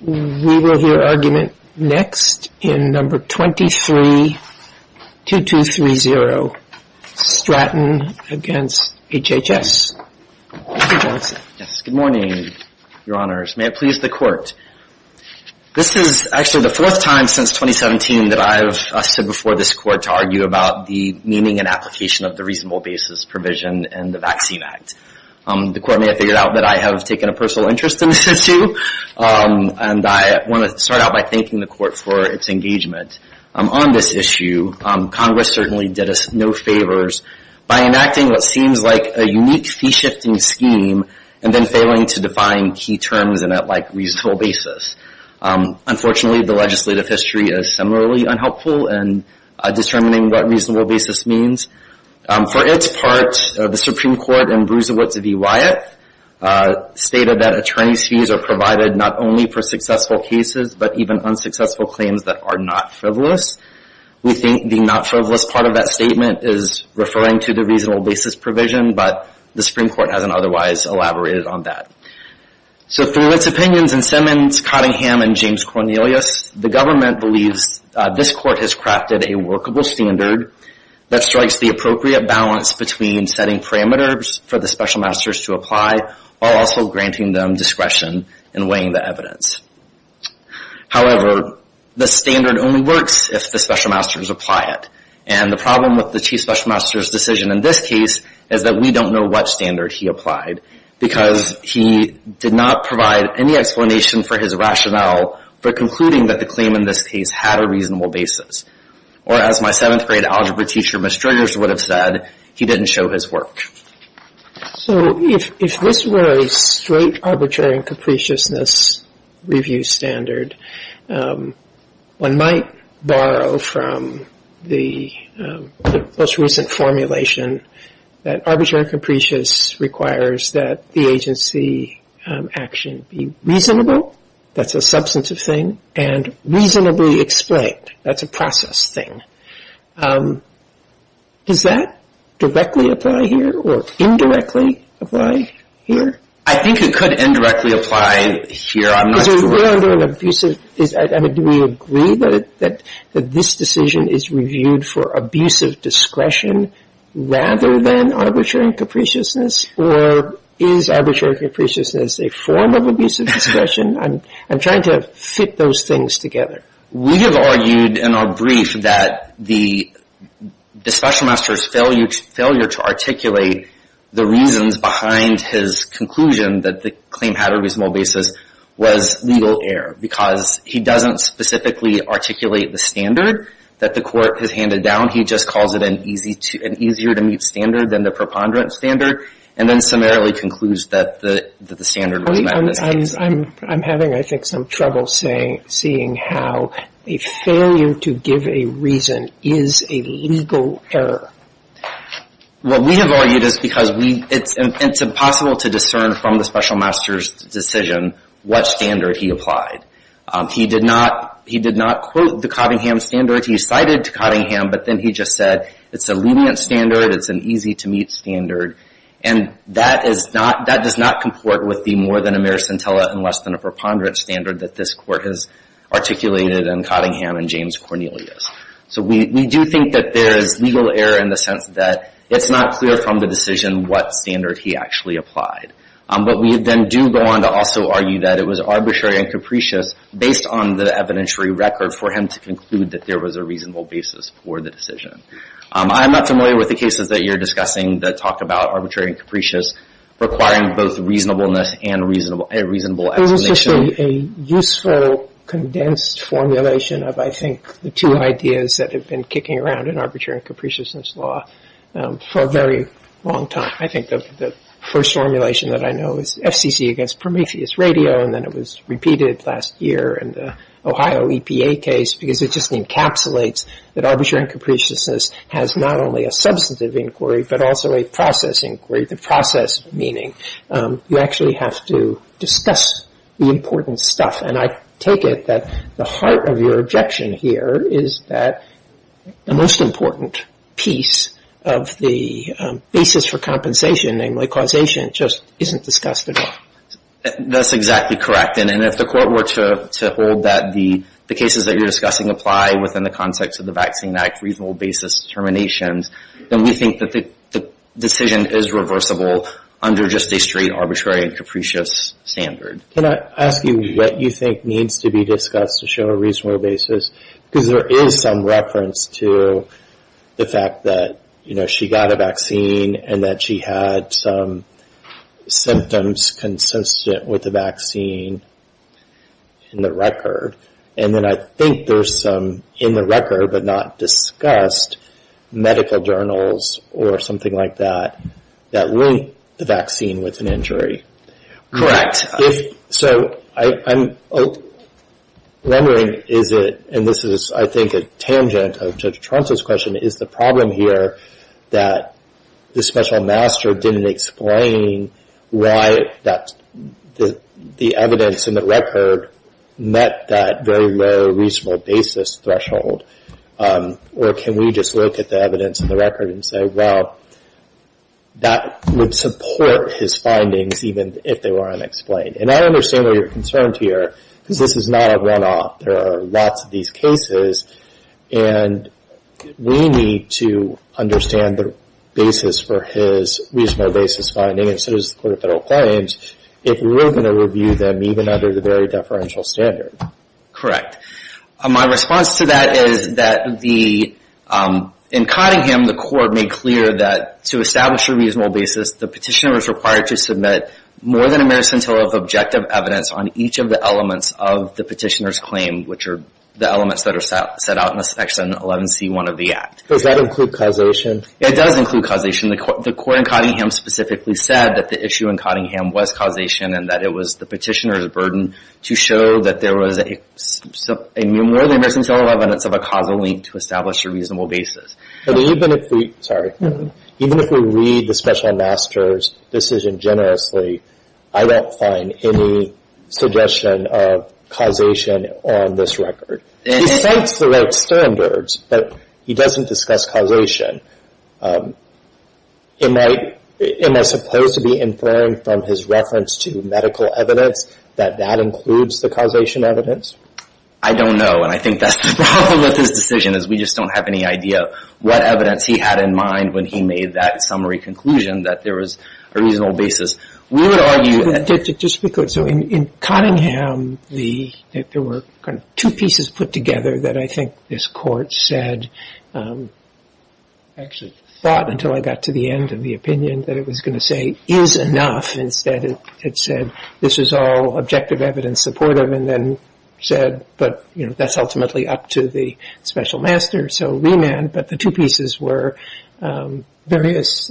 We will hear argument next in number 232230 Stratton against HHS. Good morning, your honors. May it please the court. This is actually the fourth time since 2017 that I've stood before this court to argue about the meaning and application of the reasonable basis provision in the Vaccine Act. The court may have figured out that I have taken a personal interest in this issue, and I want to start out by thanking the court for its engagement. On this issue, Congress certainly did us no favors by enacting what seems like a unique fee-shifting scheme and then failing to define key terms in a reasonable basis. Unfortunately, the legislative history is similarly unhelpful in determining what reasonable basis means. For its part, the Supreme Court in Bruisewitz v. Wyatt stated that attorney's fees are provided not only for successful cases, but even unsuccessful claims that are not frivolous. We think the not frivolous part of that statement is referring to the reasonable basis provision, but the Supreme Court hasn't otherwise elaborated on that. Through its opinions in Simmons, Cottingham, and James Cornelius, the government believes this court has crafted a workable standard that strikes the appropriate balance between setting parameters for the special masters to apply, while also granting them discretion in weighing the evidence. However, the standard only works if the special masters apply it. And the problem with the chief special master's decision in this case is that we don't know what standard he applied, because he did not provide any explanation for his rationale for concluding that the claim in this case had a reasonable basis. Or as my seventh grade algebra teacher, Ms. Striggers, would have said, he didn't show his work. So if this were a straight arbitrary and capriciousness review standard, one might borrow from the most recent formulation that arbitrary and capricious requires that the agency action be reasonable, that's a substantive thing, and reasonably explained, that's a process thing. Does that directly apply here, or indirectly apply here? I think it could indirectly apply here, I'm not sure. Because we're under an abusive, I mean, do we agree that this decision is reviewed for abusive discretion, rather than arbitrary and capriciousness? Or is arbitrary and capriciousness a form of abusive discretion? I'm trying to fit those things together. We have argued in our brief that the special master's failure to articulate the reasons behind his conclusion that the claim had a reasonable basis was legal error. Because he doesn't specifically articulate the standard that the court has handed down. He just calls it an easier to meet standard than the preponderance standard, and then summarily concludes that the standard was met. I'm having, I think, some trouble seeing how a failure to give a reason is a legal error. What we have argued is because it's impossible to discern from the special master's decision what standard he applied. He did not quote the Cottingham standard, he cited Cottingham, but then he just said it's a lenient standard, it's an easy to meet standard. And that does not comport with the more than a mere scintilla and less than a preponderance standard that this court has articulated in Cottingham and James Cornelius. So we do think that there is legal error in the sense that it's not clear from the decision what standard he actually applied. But we then do go on to also argue that it was arbitrary and capricious based on the evidentiary record for him to conclude that there was a reasonable basis for the decision. I'm not familiar with the cases that you're discussing that talk about arbitrary and capricious requiring both reasonableness and a reasonable estimation. It was just a useful condensed formulation of, I think, the two ideas that have been kicking around in arbitrary and capriciousness law for a very long time. I think the first formulation that I know is FCC against Prometheus Radio, and then it was repeated last year in the Ohio EPA case because it just encapsulates that arbitrary and capriciousness has not only a substantive inquiry but also a process inquiry. The process meaning you actually have to discuss the important stuff. And I take it that the heart of your objection here is that the most important piece of the basis for compensation, namely causation, just isn't discussed at all. That's exactly correct. And if the court were to hold that the cases that you're discussing apply within the context of the Vaccine Act reasonable basis determinations, then we think that the decision is reversible under just a straight arbitrary and capricious standard. Can I ask you what you think needs to be discussed to show a reasonable basis? Because there is some reference to the fact that she got a vaccine and that she had some symptoms consistent with the vaccine in the record. And then I think there's some in the record but not discussed medical journals or something like that that linked the vaccine with an injury. So I'm wondering is it, and this is I think a tangent of Judge Torrance's question, is the problem here that the special master didn't explain why the evidence in the record met that very low reasonable basis threshold? Or can we just look at the evidence in the record and say, well, that would support his findings even if they were unexplained? And I understand why you're concerned here, because this is not a runoff. There are lots of these cases, and we need to understand the basis for his reasonable basis finding, and so does the Court of Federal Claims, if we're going to review them even under the very deferential standard. Correct. My response to that is that in Cottingham, the court made clear that to establish a reasonable basis, the petitioner is required to submit more than a merits until of objective evidence on each of the elements of the petitioner's claim, which are the elements that are set out in Section 11C1 of the Act. Does that include causation? It does include causation. The court in Cottingham specifically said that the issue in Cottingham was causation and that it was the petitioner's burden to show that there was more than a merits until of evidence of a causal link to establish a reasonable basis. But even if we read the Special Master's decision generously, I don't find any suggestion of causation on this record. He cites the right standards, but he doesn't discuss causation. Am I supposed to be inferring from his reference to medical evidence that that includes the causation evidence? I don't know, and I think that's the problem with his decision, is we just don't have any idea what evidence he had in mind when he made that summary conclusion that there was a reasonable basis. So in Cottingham, there were kind of two pieces put together that I think this Court said, actually thought until I got to the end of the opinion, that it was going to say is enough. Instead, it said this is all objective evidence supportive and then said, but, you know, that's ultimately up to the Special Master. So remand, but the two pieces were various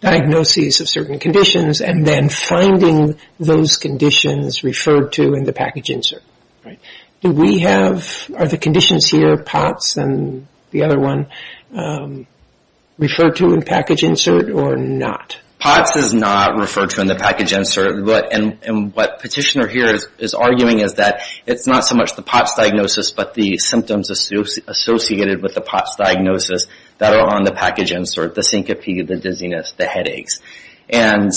diagnoses of certain conditions and then finding those conditions referred to in the package insert. Do we have, are the conditions here, POTS and the other one, referred to in package insert or not? POTS is not referred to in the package insert, and what petitioner here is arguing is that it's not so much the POTS diagnosis, but the symptoms associated with the POTS diagnosis that are on the package insert, the syncope, the dizziness, the headaches. And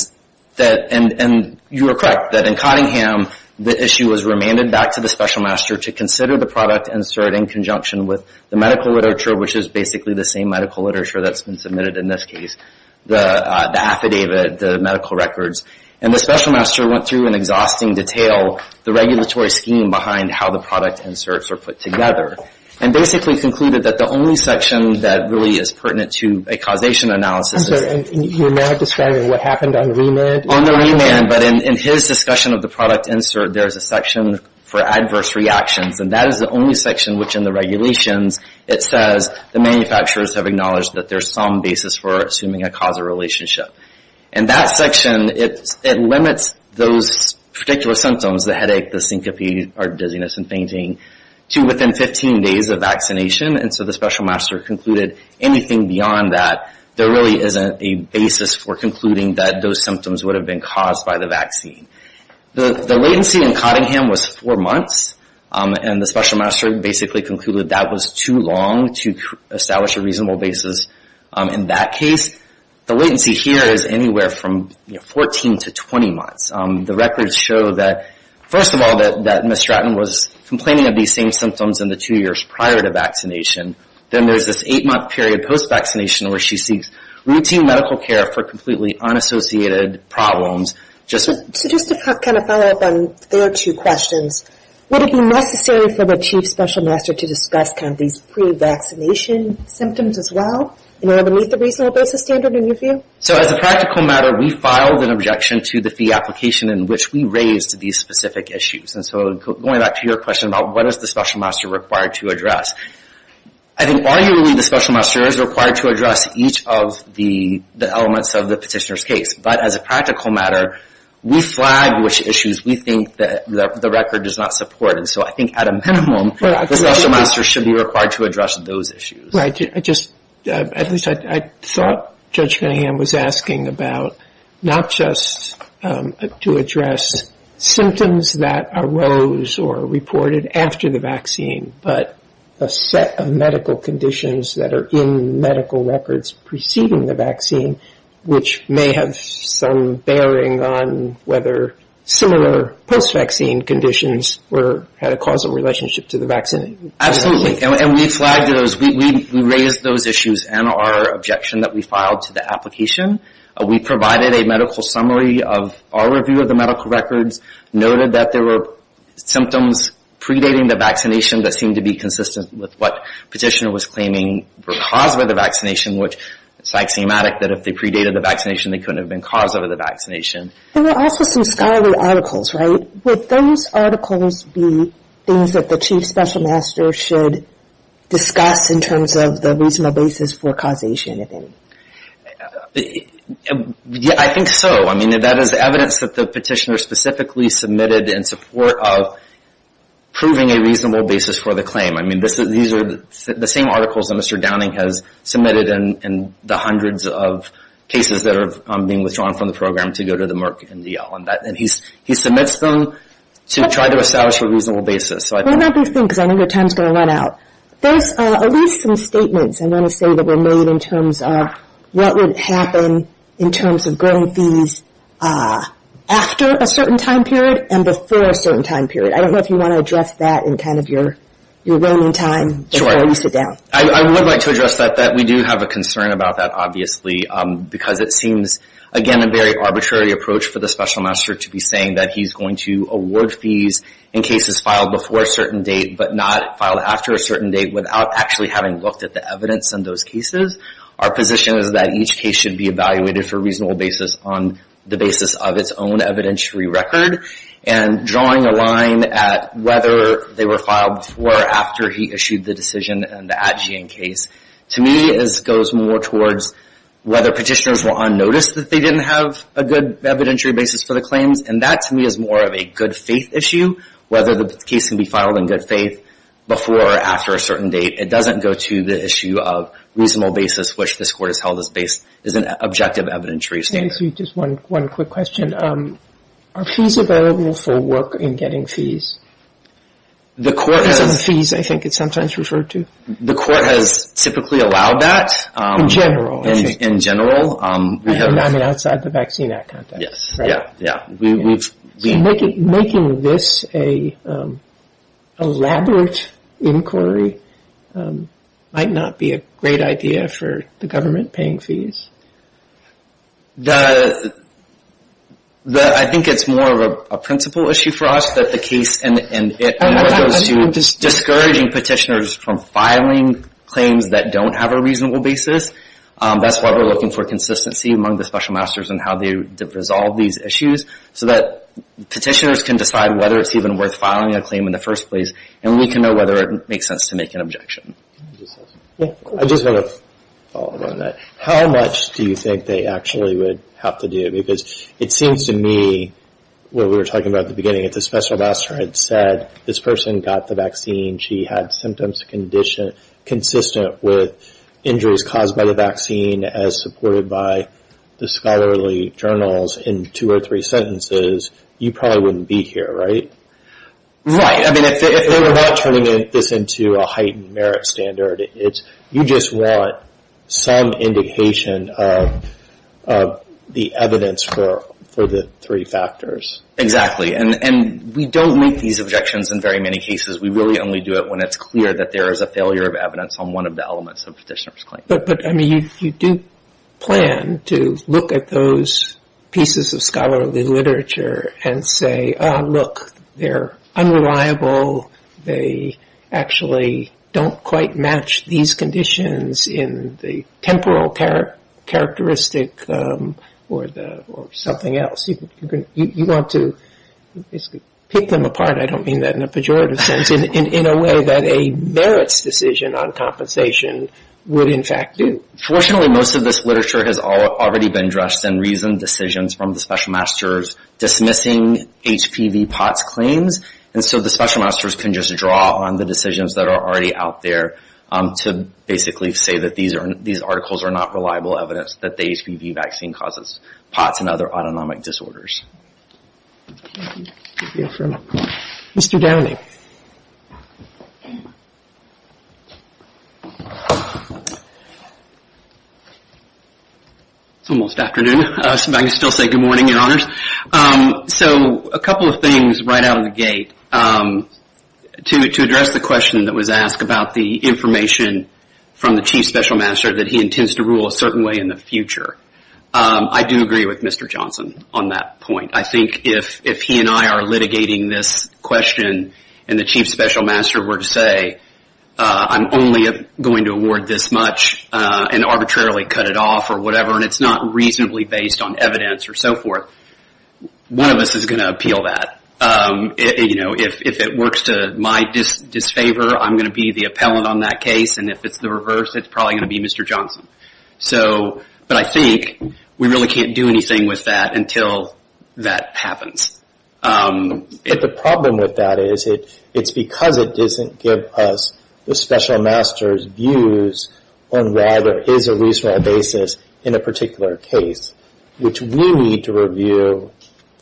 you are correct that in Cottingham, the issue was remanded back to the Special Master to consider the product insert in conjunction with the medical literature, which is basically the same medical literature that's been submitted in this case, the affidavit, the medical records. And the Special Master went through in exhausting detail the regulatory scheme behind how the product inserts are put together, and basically concluded that the only section that really is pertinent to a causation analysis is... I'm sorry, you're not describing what happened on remand? On the remand, but in his discussion of the product insert, there's a section for adverse reactions, and that is the only section which in the regulations it says the manufacturers have acknowledged that there's some basis for assuming a causal relationship. And that section, it limits those particular symptoms, the headache, the syncope, or dizziness and fainting, to within 15 days of vaccination. And so the Special Master concluded anything beyond that, there really isn't a basis for concluding that those symptoms would have been caused by the vaccine. The latency in Cottingham was four months, and the Special Master basically concluded that was too long to establish a reasonable basis in that case. The latency here is anywhere from 14 to 20 months. The records show that, first of all, that Ms. Stratton was complaining of these same symptoms in the two years prior to vaccination. Then there's this eight-month period post-vaccination where she seeks routine medical care for completely unassociated problems. So just to kind of follow up on their two questions, would it be necessary for the Chief Special Master to discuss kind of these pre-vaccination symptoms as well, in order to meet the reasonable basis standard in your view? So as a practical matter, we filed an objection to the fee application in which we raised these specific issues. And so going back to your question about what is the Special Master required to address, I think arguably the Special Master is required to address each of the elements of the petitioner's case. But as a practical matter, we flag which issues we think that the record does not support. And so I think at a minimum, the Special Master should be required to address those issues. At least I thought Judge Cunningham was asking about not just to address symptoms that arose or reported after the vaccine, but a set of medical conditions that are in medical records preceding the vaccine, which may have some bearing on whether similar post-vaccine conditions had a causal relationship to the vaccine. Absolutely. And we flagged those. We raised those issues in our objection that we filed to the application. We provided a medical summary of our review of the medical records, noted that there were symptoms predating the vaccination that seemed to be consistent with what petitioner was claiming were caused by the vaccination, which is axiomatic that if they predated the vaccination, they couldn't have been caused by the vaccination. There were also some scholarly articles, right? Would those articles be things that the Chief Special Master should discuss in terms of the reasonable basis for causation? I think so. I mean, that is evidence that the petitioner specifically submitted in support of proving a reasonable basis for the claim. I mean, these are the same articles that Mr. Downing has submitted in the hundreds of cases that are being withdrawn from the program to go to the Merck MDL. And he submits them to try to establish a reasonable basis. What about these things? I know your time is going to run out. There's at least some statements, I want to say, that were made in terms of what would happen in terms of growing fees after a certain time period and before a certain time period. I don't know if you want to address that in kind of your roaming time before you sit down. Sure. I would like to address that, that we do have a concern about that, obviously, because it seems, again, a very arbitrary approach for the Special Master to be saying that he's going to award fees in cases filed before a certain date, but not filed after a certain date, without actually having looked at the evidence in those cases. Our position is that each case should be evaluated for a reasonable basis on the basis of its own evidentiary record. And drawing a line at whether they were filed before or after he issued the decision and the Adjean case, to me, goes more towards whether petitioners were unnoticed that they didn't have a good evidentiary basis for the claims. And that, to me, is more of a good faith issue, whether the case can be filed in good faith before or after a certain date. It doesn't go to the issue of reasonable basis, which this Court has held is an objective evidentiary standard. Just one quick question. Are fees available for work in getting fees? Because of the fees, I think, it's sometimes referred to. The Court has typically allowed that. In general, I think. In general. I mean, outside the Vaccine Act context. Yes, yeah, yeah. Making this an elaborate inquiry might not be a great idea for the government paying fees. I think it's more of a principle issue for us that the case and it goes to discouraging petitioners from filing claims that don't have a reasonable basis. That's why we're looking for consistency among the special masters in how they resolve these issues so that petitioners can decide whether it's even worth filing a claim in the first place and we can know whether it makes sense to make an objection. I just want to follow up on that. How much do you think they actually would have to do? Because it seems to me, what we were talking about at the beginning, if the special master had said this person got the vaccine, she had symptoms consistent with injuries caused by the vaccine as supported by the scholarly journals in two or three sentences, you probably wouldn't be here, right? Right. I mean, if they were not turning this into a heightened merit standard, you just want some indication of the evidence for the three factors. Exactly. And we don't make these objections in very many cases. We really only do it when it's clear that there is a failure of evidence on one of the elements of a petitioner's claim. But, I mean, you do plan to look at those pieces of scholarly literature and say, look, they're unreliable. They actually don't quite match these conditions in the temporal characteristic or something else. You want to pick them apart, I don't mean that in a pejorative sense, in a way that a merits decision on compensation would, in fact, do. Fortunately, most of this literature has already been addressed and reasoned decisions from the special master's dismissing HPV POTS claims. And so the special masters can just draw on the decisions that are already out there to basically say that these articles are not reliable evidence that the HPV vaccine causes POTS and other autonomic disorders. Mr. Downing. It's almost afternoon. I can still say good morning, Your Honors. So a couple of things right out of the gate. To address the question that was asked about the information from the chief special master that he intends to rule a certain way in the future, I do agree with Mr. Johnson on that point. I think if he and I are litigating this question and the chief special master were to say, I'm only going to award this much and arbitrarily cut it off or whatever, and it's not reasonably based on evidence or so forth, one of us is going to appeal that. If it works to my disfavor, I'm going to be the appellant on that case, and if it's the reverse, it's probably going to be Mr. Johnson. But I think we really can't do anything with that until that happens. The problem with that is it's because it doesn't give us the special master's views on why there is a reasonable basis in a particular case, which we need to review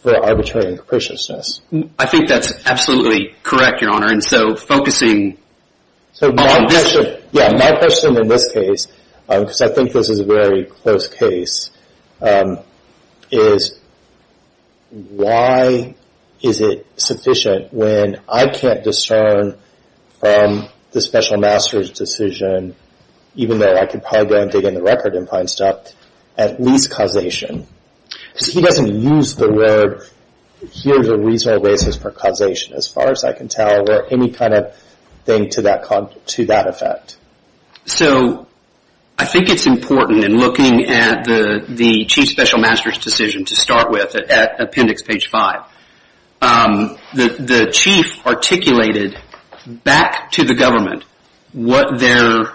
for arbitrary and capriciousness. I think that's absolutely correct, Your Honor, and so focusing on this. So my question in this case, because I think this is a very close case, is why is it sufficient when I can't discern from the special master's decision, even though I could probably go and dig in the record and find stuff, at least causation? Because he doesn't use the word, here's a reasonable basis for causation, as far as I can tell, or any kind of thing to that effect. So I think it's important in looking at the chief special master's decision to start with, at appendix page 5, the chief articulated back to the government what their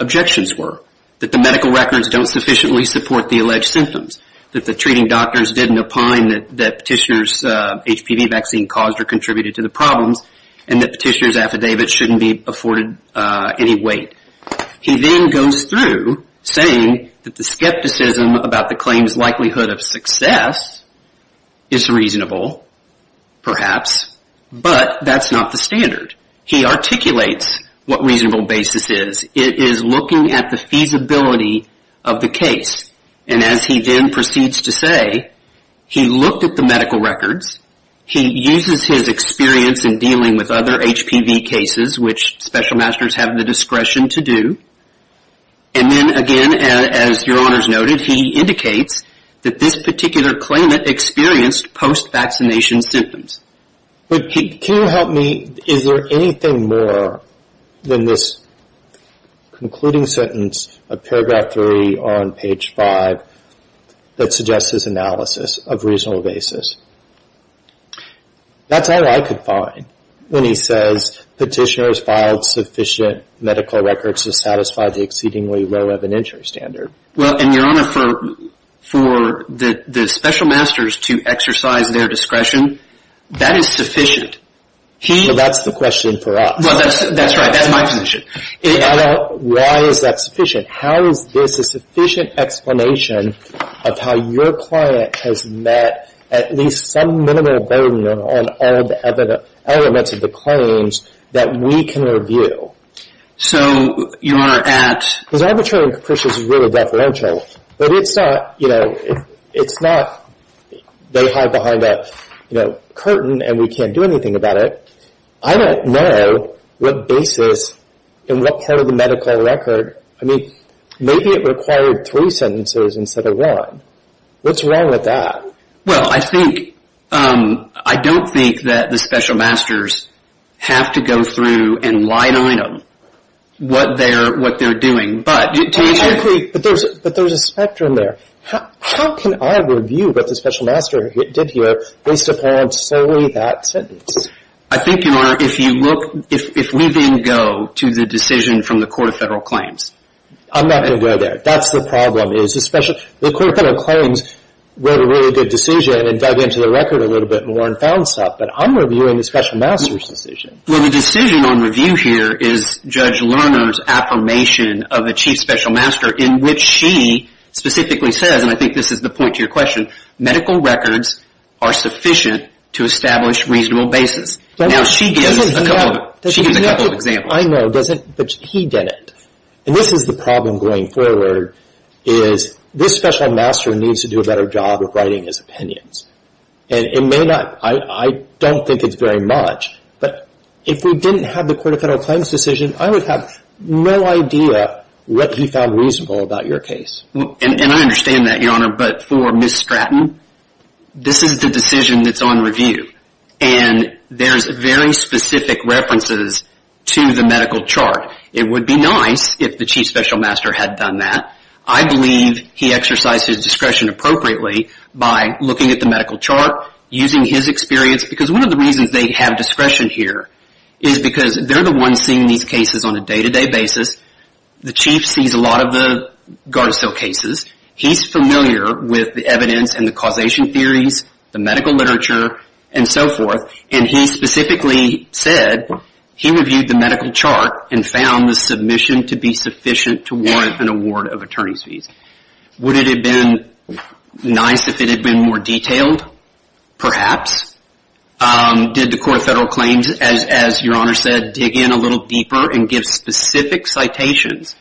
objections were, that the medical records don't sufficiently support the alleged symptoms, that the treating doctors didn't opine that Petitioner's HPV vaccine caused or contributed to the problems, and that Petitioner's affidavit shouldn't be afforded any weight. He then goes through saying that the skepticism about the claim's likelihood of success is reasonable, perhaps, but that's not the standard. He articulates what reasonable basis is. It is looking at the feasibility of the case, and as he then proceeds to say, he looked at the medical records, he uses his experience in dealing with other HPV cases, which special masters have the discretion to do, and then again, as your honors noted, he indicates that this particular claimant experienced post-vaccination symptoms. But can you help me, is there anything more than this concluding sentence of paragraph 3 on page 5 that suggests his analysis of reasonable basis? That's all I could find when he says Petitioner's filed sufficient medical records to satisfy the exceedingly low evidentiary standard. Well, and your honor, for the special masters to exercise their discretion, that is sufficient. So that's the question for us. That's right, that's my position. Why is that sufficient? How is this a sufficient explanation of how your client has met at least some minimum burden on all the elements of the claims that we can review? So, your honor, at because arbitrary and capricious is really deferential, but it's not, you know, it's not they hide behind a curtain and we can't do anything about it. I don't know what basis in what part of the medical record, I mean, maybe it required three sentences instead of one. What's wrong with that? Well, I think, I don't think that the special masters have to go through and line item what they're doing, but to each their own. But there's a spectrum there. How can I review what the special master did here based upon solely that sentence? I think, your honor, if you look, if we then go to the decision from the Court of Federal Claims. I'm not going to go there. That's the problem, is the Court of Federal Claims made a really good decision and dug into the record a little bit more and found stuff, but I'm reviewing the special master's decision. Well, the decision on review here is Judge Lerner's affirmation of a chief special master in which she specifically says, and I think this is the point to your question, medical records are sufficient to establish reasonable basis. Now, she gives a couple of examples. I know, but he didn't. And this is the problem going forward is this special master needs to do a better job of writing his opinions. And it may not, I don't think it's very much, but if we didn't have the Court of Federal Claims decision, I would have no idea what he found reasonable about your case. And I understand that, your honor, but for Ms. Stratton, this is the decision that's on review. And there's very specific references to the medical chart. It would be nice if the chief special master had done that. I believe he exercised his discretion appropriately by looking at the medical chart, using his experience, because one of the reasons they have discretion here is because they're the ones seeing these cases on a day-to-day basis. The chief sees a lot of the Gardasil cases. He's familiar with the evidence and the causation theories, the medical literature, and so forth. And he specifically said he reviewed the medical chart and found the submission to be sufficient to warrant an award of attorney's fees. Would it have been nice if it had been more detailed? Perhaps. Did the Court of Federal Claims, as your honor said, dig in a little deeper and give specific citations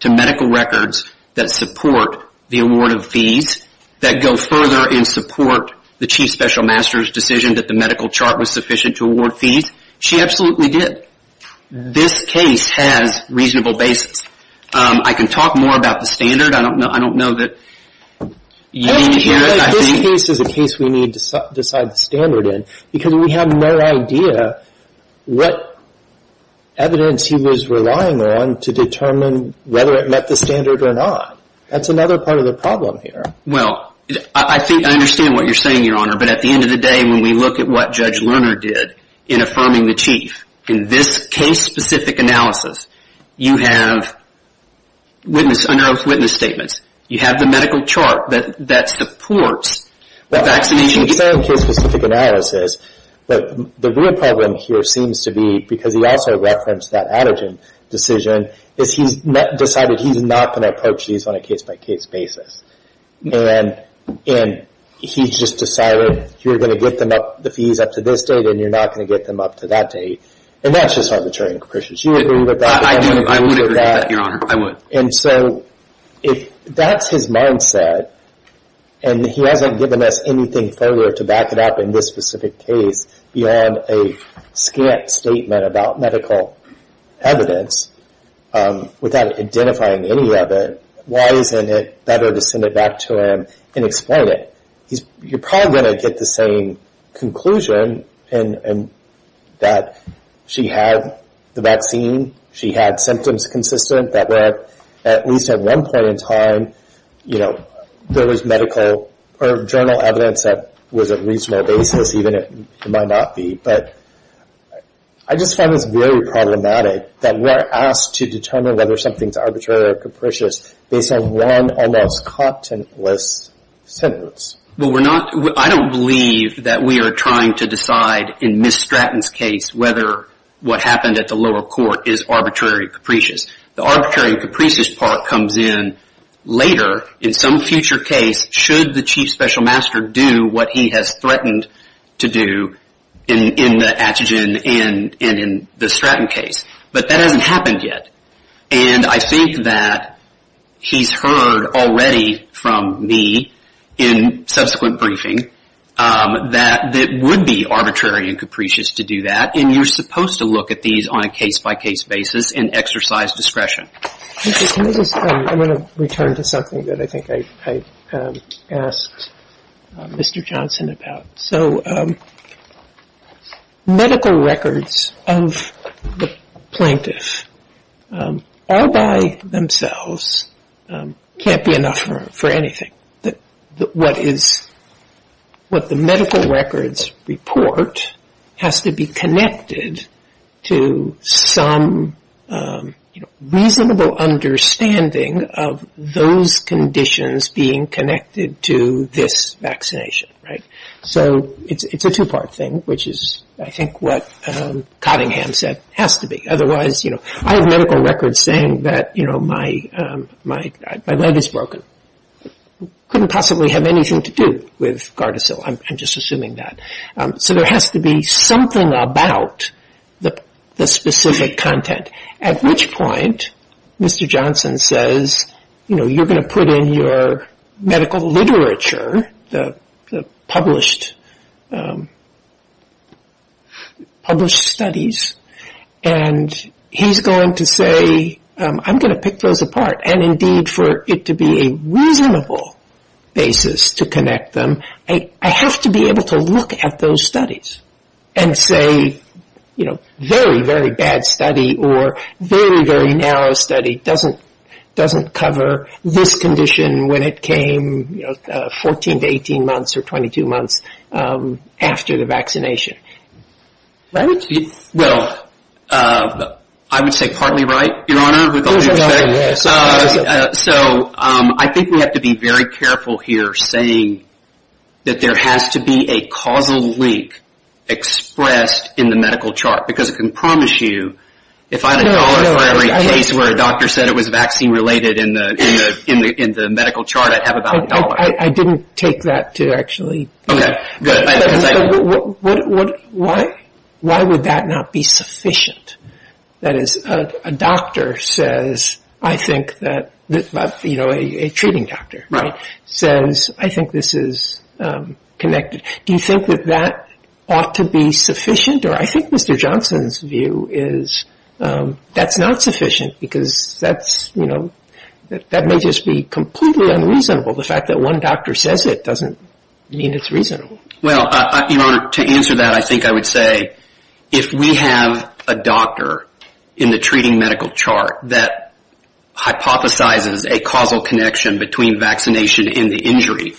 to medical records that support the award of fees, that go further and support the chief special master's decision that the medical chart was sufficient to award fees? She absolutely did. This case has reasonable basis. I can talk more about the standard. I don't know that you need to hear it. This case is a case we need to decide the standard in because we have no idea what evidence he was relying on to determine whether it met the standard or not. That's another part of the problem here. Well, I think I understand what you're saying, your honor, but at the end of the day, when we look at what Judge Lerner did in affirming the chief, in this case-specific analysis, you have unearthed witness statements. You have the medical chart that supports the vaccination case. Well, I understand case-specific analysis, but the real problem here seems to be, because he also referenced that Adergen decision, is he's decided he's not going to approach these on a case-by-case basis. And he's just decided you're going to get the fees up to this date and you're not going to get them up to that date. And that's just arbitrary and capricious. Do you agree with that? I do. I would agree with that, your honor. I would. And so if that's his mindset, and he hasn't given us anything further to back it up in this specific case beyond a scant statement about medical evidence without identifying any of it, why isn't it better to send it back to him and explain it? You're probably going to get the same conclusion that she had the vaccine, she had symptoms consistent, that at least at one point in time, you know, there was medical or journal evidence that was a reasonable basis, even if it might not be. But I just find this very problematic, that we're asked to determine whether something's arbitrary or capricious based on one almost contentless sentence. Well, I don't believe that we are trying to decide in Ms. Stratton's case whether what happened at the lower court is arbitrary or capricious. The arbitrary and capricious part comes in later in some future case should the chief special master do what he has threatened to do in the Atchison and in the Stratton case, but that hasn't happened yet. And I think that he's heard already from me in subsequent briefing that it would be arbitrary and capricious to do that, and you're supposed to look at these on a case-by-case basis and exercise discretion. I'm going to return to something that I think I asked Mr. Johnson about. So medical records of the plaintiff all by themselves can't be enough for anything. What the medical records report has to be connected to some reasonable understanding of those conditions being connected to this vaccination, right? So it's a two-part thing, which is I think what Cottingham said has to be. Otherwise, you know, I have medical records saying that, you know, my leg is broken. I couldn't possibly have anything to do with Gardasil. I'm just assuming that. So there has to be something about the specific content, at which point Mr. Johnson says, you know, published studies, and he's going to say, I'm going to pick those apart. And indeed, for it to be a reasonable basis to connect them, I have to be able to look at those studies and say, you know, very, very bad study or very, very narrow study doesn't cover this condition when it came 14 to 18 months or 22 months after the vaccination, right? Well, I would say partly right, Your Honor, with all due respect. So I think we have to be very careful here saying that there has to be a causal link expressed in the medical chart, because I can promise you if I had a dollar for every case where a doctor said it was vaccine-related in the medical chart, I'd have about a dollar. I didn't take that to actually. Okay, good. Why would that not be sufficient? That is, a doctor says, I think that, you know, a treating doctor says, I think this is connected. Do you think that that ought to be sufficient? Or I think Mr. Johnson's view is that's not sufficient because that's, you know, that may just be completely unreasonable, the fact that one doctor says it doesn't mean it's reasonable. Well, Your Honor, to answer that, I think I would say if we have a doctor in the treating medical chart that hypothesizes a causal connection between vaccination and the injury,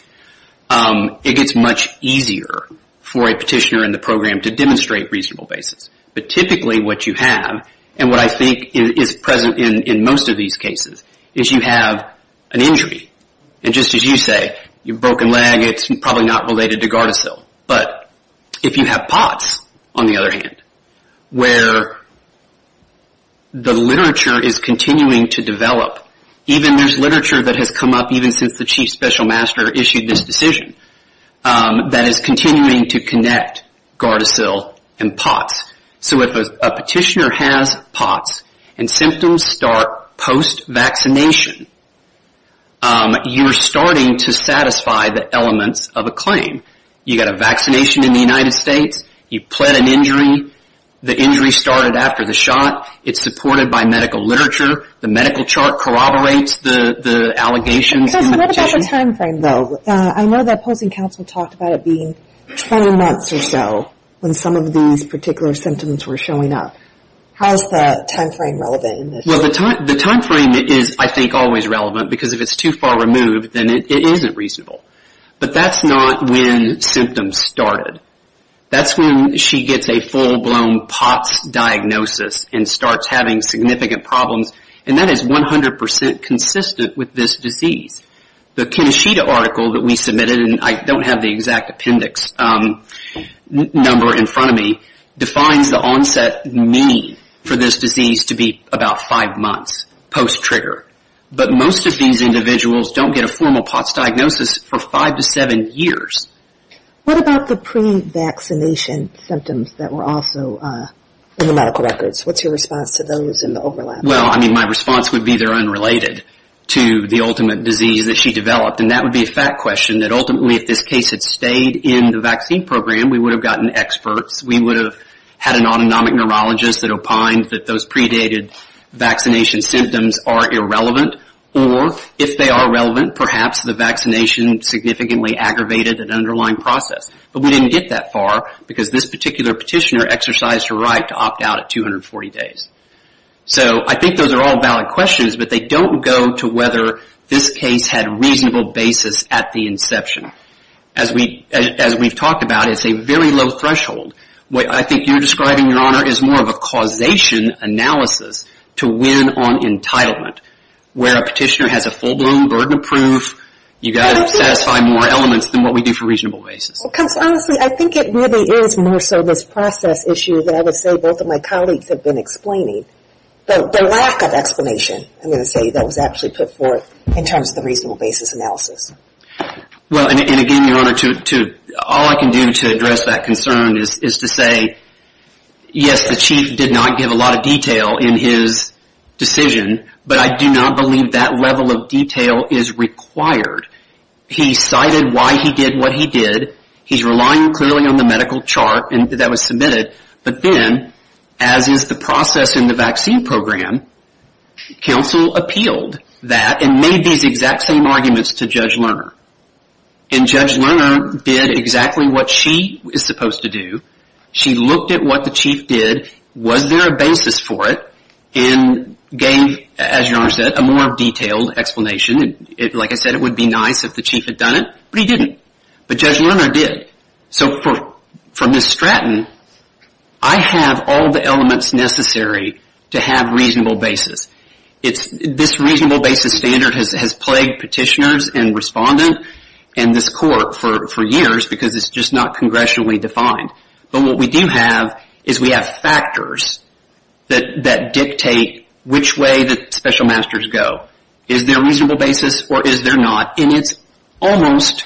it gets much easier for a petitioner in the program to demonstrate reasonable basis. But typically what you have, and what I think is present in most of these cases, is you have an injury. And just as you say, your broken leg, it's probably not related to Gardasil. But if you have POTS, on the other hand, where the literature is continuing to develop, even there's literature that has come up even since the Chief Special Master issued this decision, that is continuing to connect Gardasil and POTS. So if a petitioner has POTS and symptoms start post-vaccination, you're starting to satisfy the elements of a claim. You got a vaccination in the United States. You pled an injury. The injury started after the shot. It's supported by medical literature. The medical chart corroborates the allegations in the petition. Because what about the timeframe, though? I know the opposing counsel talked about it being 20 months or so when some of these particular symptoms were showing up. How is that timeframe relevant in this case? Well, the timeframe is, I think, always relevant. Because if it's too far removed, then it isn't reasonable. But that's not when symptoms started. That's when she gets a full-blown POTS diagnosis and starts having significant problems. And that is 100% consistent with this disease. The Keneshita article that we submitted, and I don't have the exact appendix number in front of me, defines the onset mean for this disease to be about five months post-trigger. But most of these individuals don't get a formal POTS diagnosis for five to seven years. What about the pre-vaccination symptoms that were also in the medical records? What's your response to those and the overlap? Well, I mean, my response would be they're unrelated to the ultimate disease that she developed. And that would be a fact question, that ultimately if this case had stayed in the vaccine program, we would have gotten experts. We would have had an autonomic neurologist that opined that those predated vaccination symptoms are irrelevant. Or if they are relevant, perhaps the vaccination significantly aggravated an underlying process. But we didn't get that far because this particular petitioner exercised her right to opt out at 240 days. So I think those are all valid questions, but they don't go to whether this case had reasonable basis at the inception. As we've talked about, it's a very low threshold. What I think you're describing, Your Honor, is more of a causation analysis to win on entitlement, where a petitioner has a full-blown burden of proof. You guys satisfy more elements than what we do for reasonable basis. Because honestly, I think it really is more so this process issue that I would say both of my colleagues have been explaining. The lack of explanation, I'm going to say, that was actually put forth in terms of the reasonable basis analysis. Well, and again, Your Honor, all I can do to address that concern is to say, yes, the chief did not give a lot of detail in his decision, but I do not believe that level of detail is required. He cited why he did what he did. He's relying clearly on the medical chart that was submitted. But then, as is the process in the vaccine program, counsel appealed that and made these exact same arguments to Judge Lerner. And Judge Lerner did exactly what she is supposed to do. She looked at what the chief did. Was there a basis for it? And gave, as Your Honor said, a more detailed explanation. Like I said, it would be nice if the chief had done it, but he didn't. But Judge Lerner did. So for Ms. Stratton, I have all the elements necessary to have reasonable basis. This reasonable basis standard has plagued petitioners and respondent and this court for years because it's just not congressionally defined. But what we do have is we have factors that dictate which way the special masters go. Is there a reasonable basis or is there not? And it's almost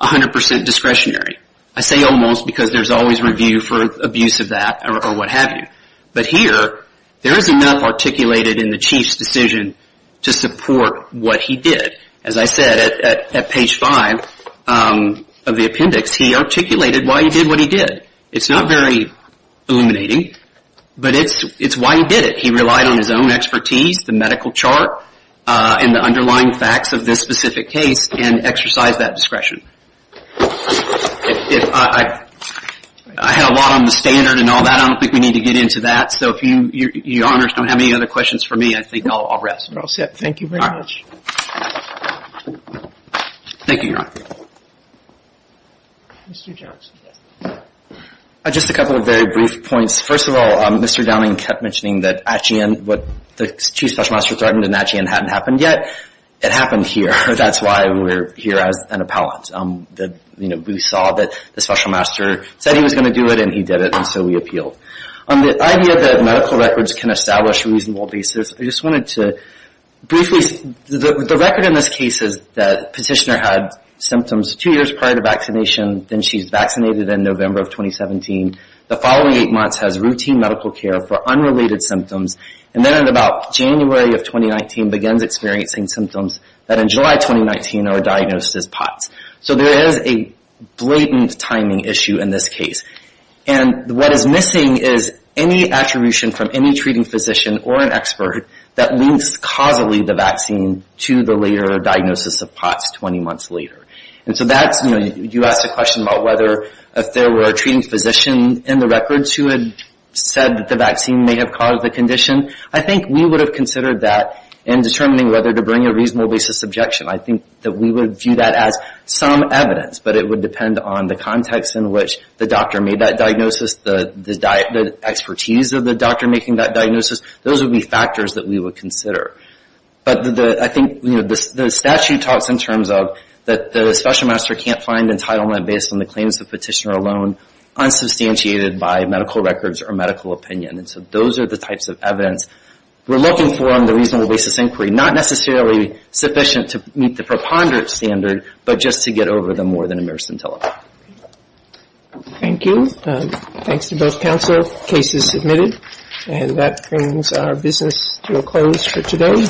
100% discretionary. I say almost because there's always review for abuse of that or what have you. But here, there is enough articulated in the chief's decision to support what he did. As I said, at page 5 of the appendix, he articulated why he did what he did. It's not very illuminating, but it's why he did it. I think it's important to note that he relied on his own expertise, the medical chart, and the underlying facts of this specific case and exercised that discretion. I had a lot on the standard and all that. I don't think we need to get into that. So if Your Honors don't have any other questions for me, I think I'll rest. We're all set. Thank you very much. Thank you, Your Honor. Mr. Johnson. Just a couple of very brief points. First of all, Mr. Downing kept mentioning that the chief's special master threatened and that hadn't happened yet. It happened here. That's why we're here as an appellant. We saw that the special master said he was going to do it, and he did it, and so we appealed. On the idea that medical records can establish a reasonable basis, I just wanted to briefly say, the record in this case is that the petitioner had symptoms two years prior to vaccination, and then she's vaccinated in November of 2017. The following eight months has routine medical care for unrelated symptoms, and then in about January of 2019 begins experiencing symptoms that in July of 2019 are diagnosed as POTS. So there is a blatant timing issue in this case. And what is missing is any attribution from any treating physician or an expert that links causally the vaccine to the later diagnosis of POTS 20 months later. And so that's, you know, you asked a question about whether if there were a treating physician in the records who had said that the vaccine may have caused the condition. I think we would have considered that in determining whether to bring a reasonable basis objection. I think that we would view that as some evidence, but it would depend on the context in which the doctor made that diagnosis, the expertise of the doctor making that diagnosis. Those would be factors that we would consider. But I think the statute talks in terms of that the special master can't find entitlement based on the claims of the petitioner alone, unsubstantiated by medical records or medical opinion. And so those are the types of evidence we're looking for on the reasonable basis inquiry, not necessarily sufficient to meet the preponderance standard, but just to get over them more than a mere scintilla. Thank you. Thanks to both counsel. Case is submitted. And that brings our business to a close for today.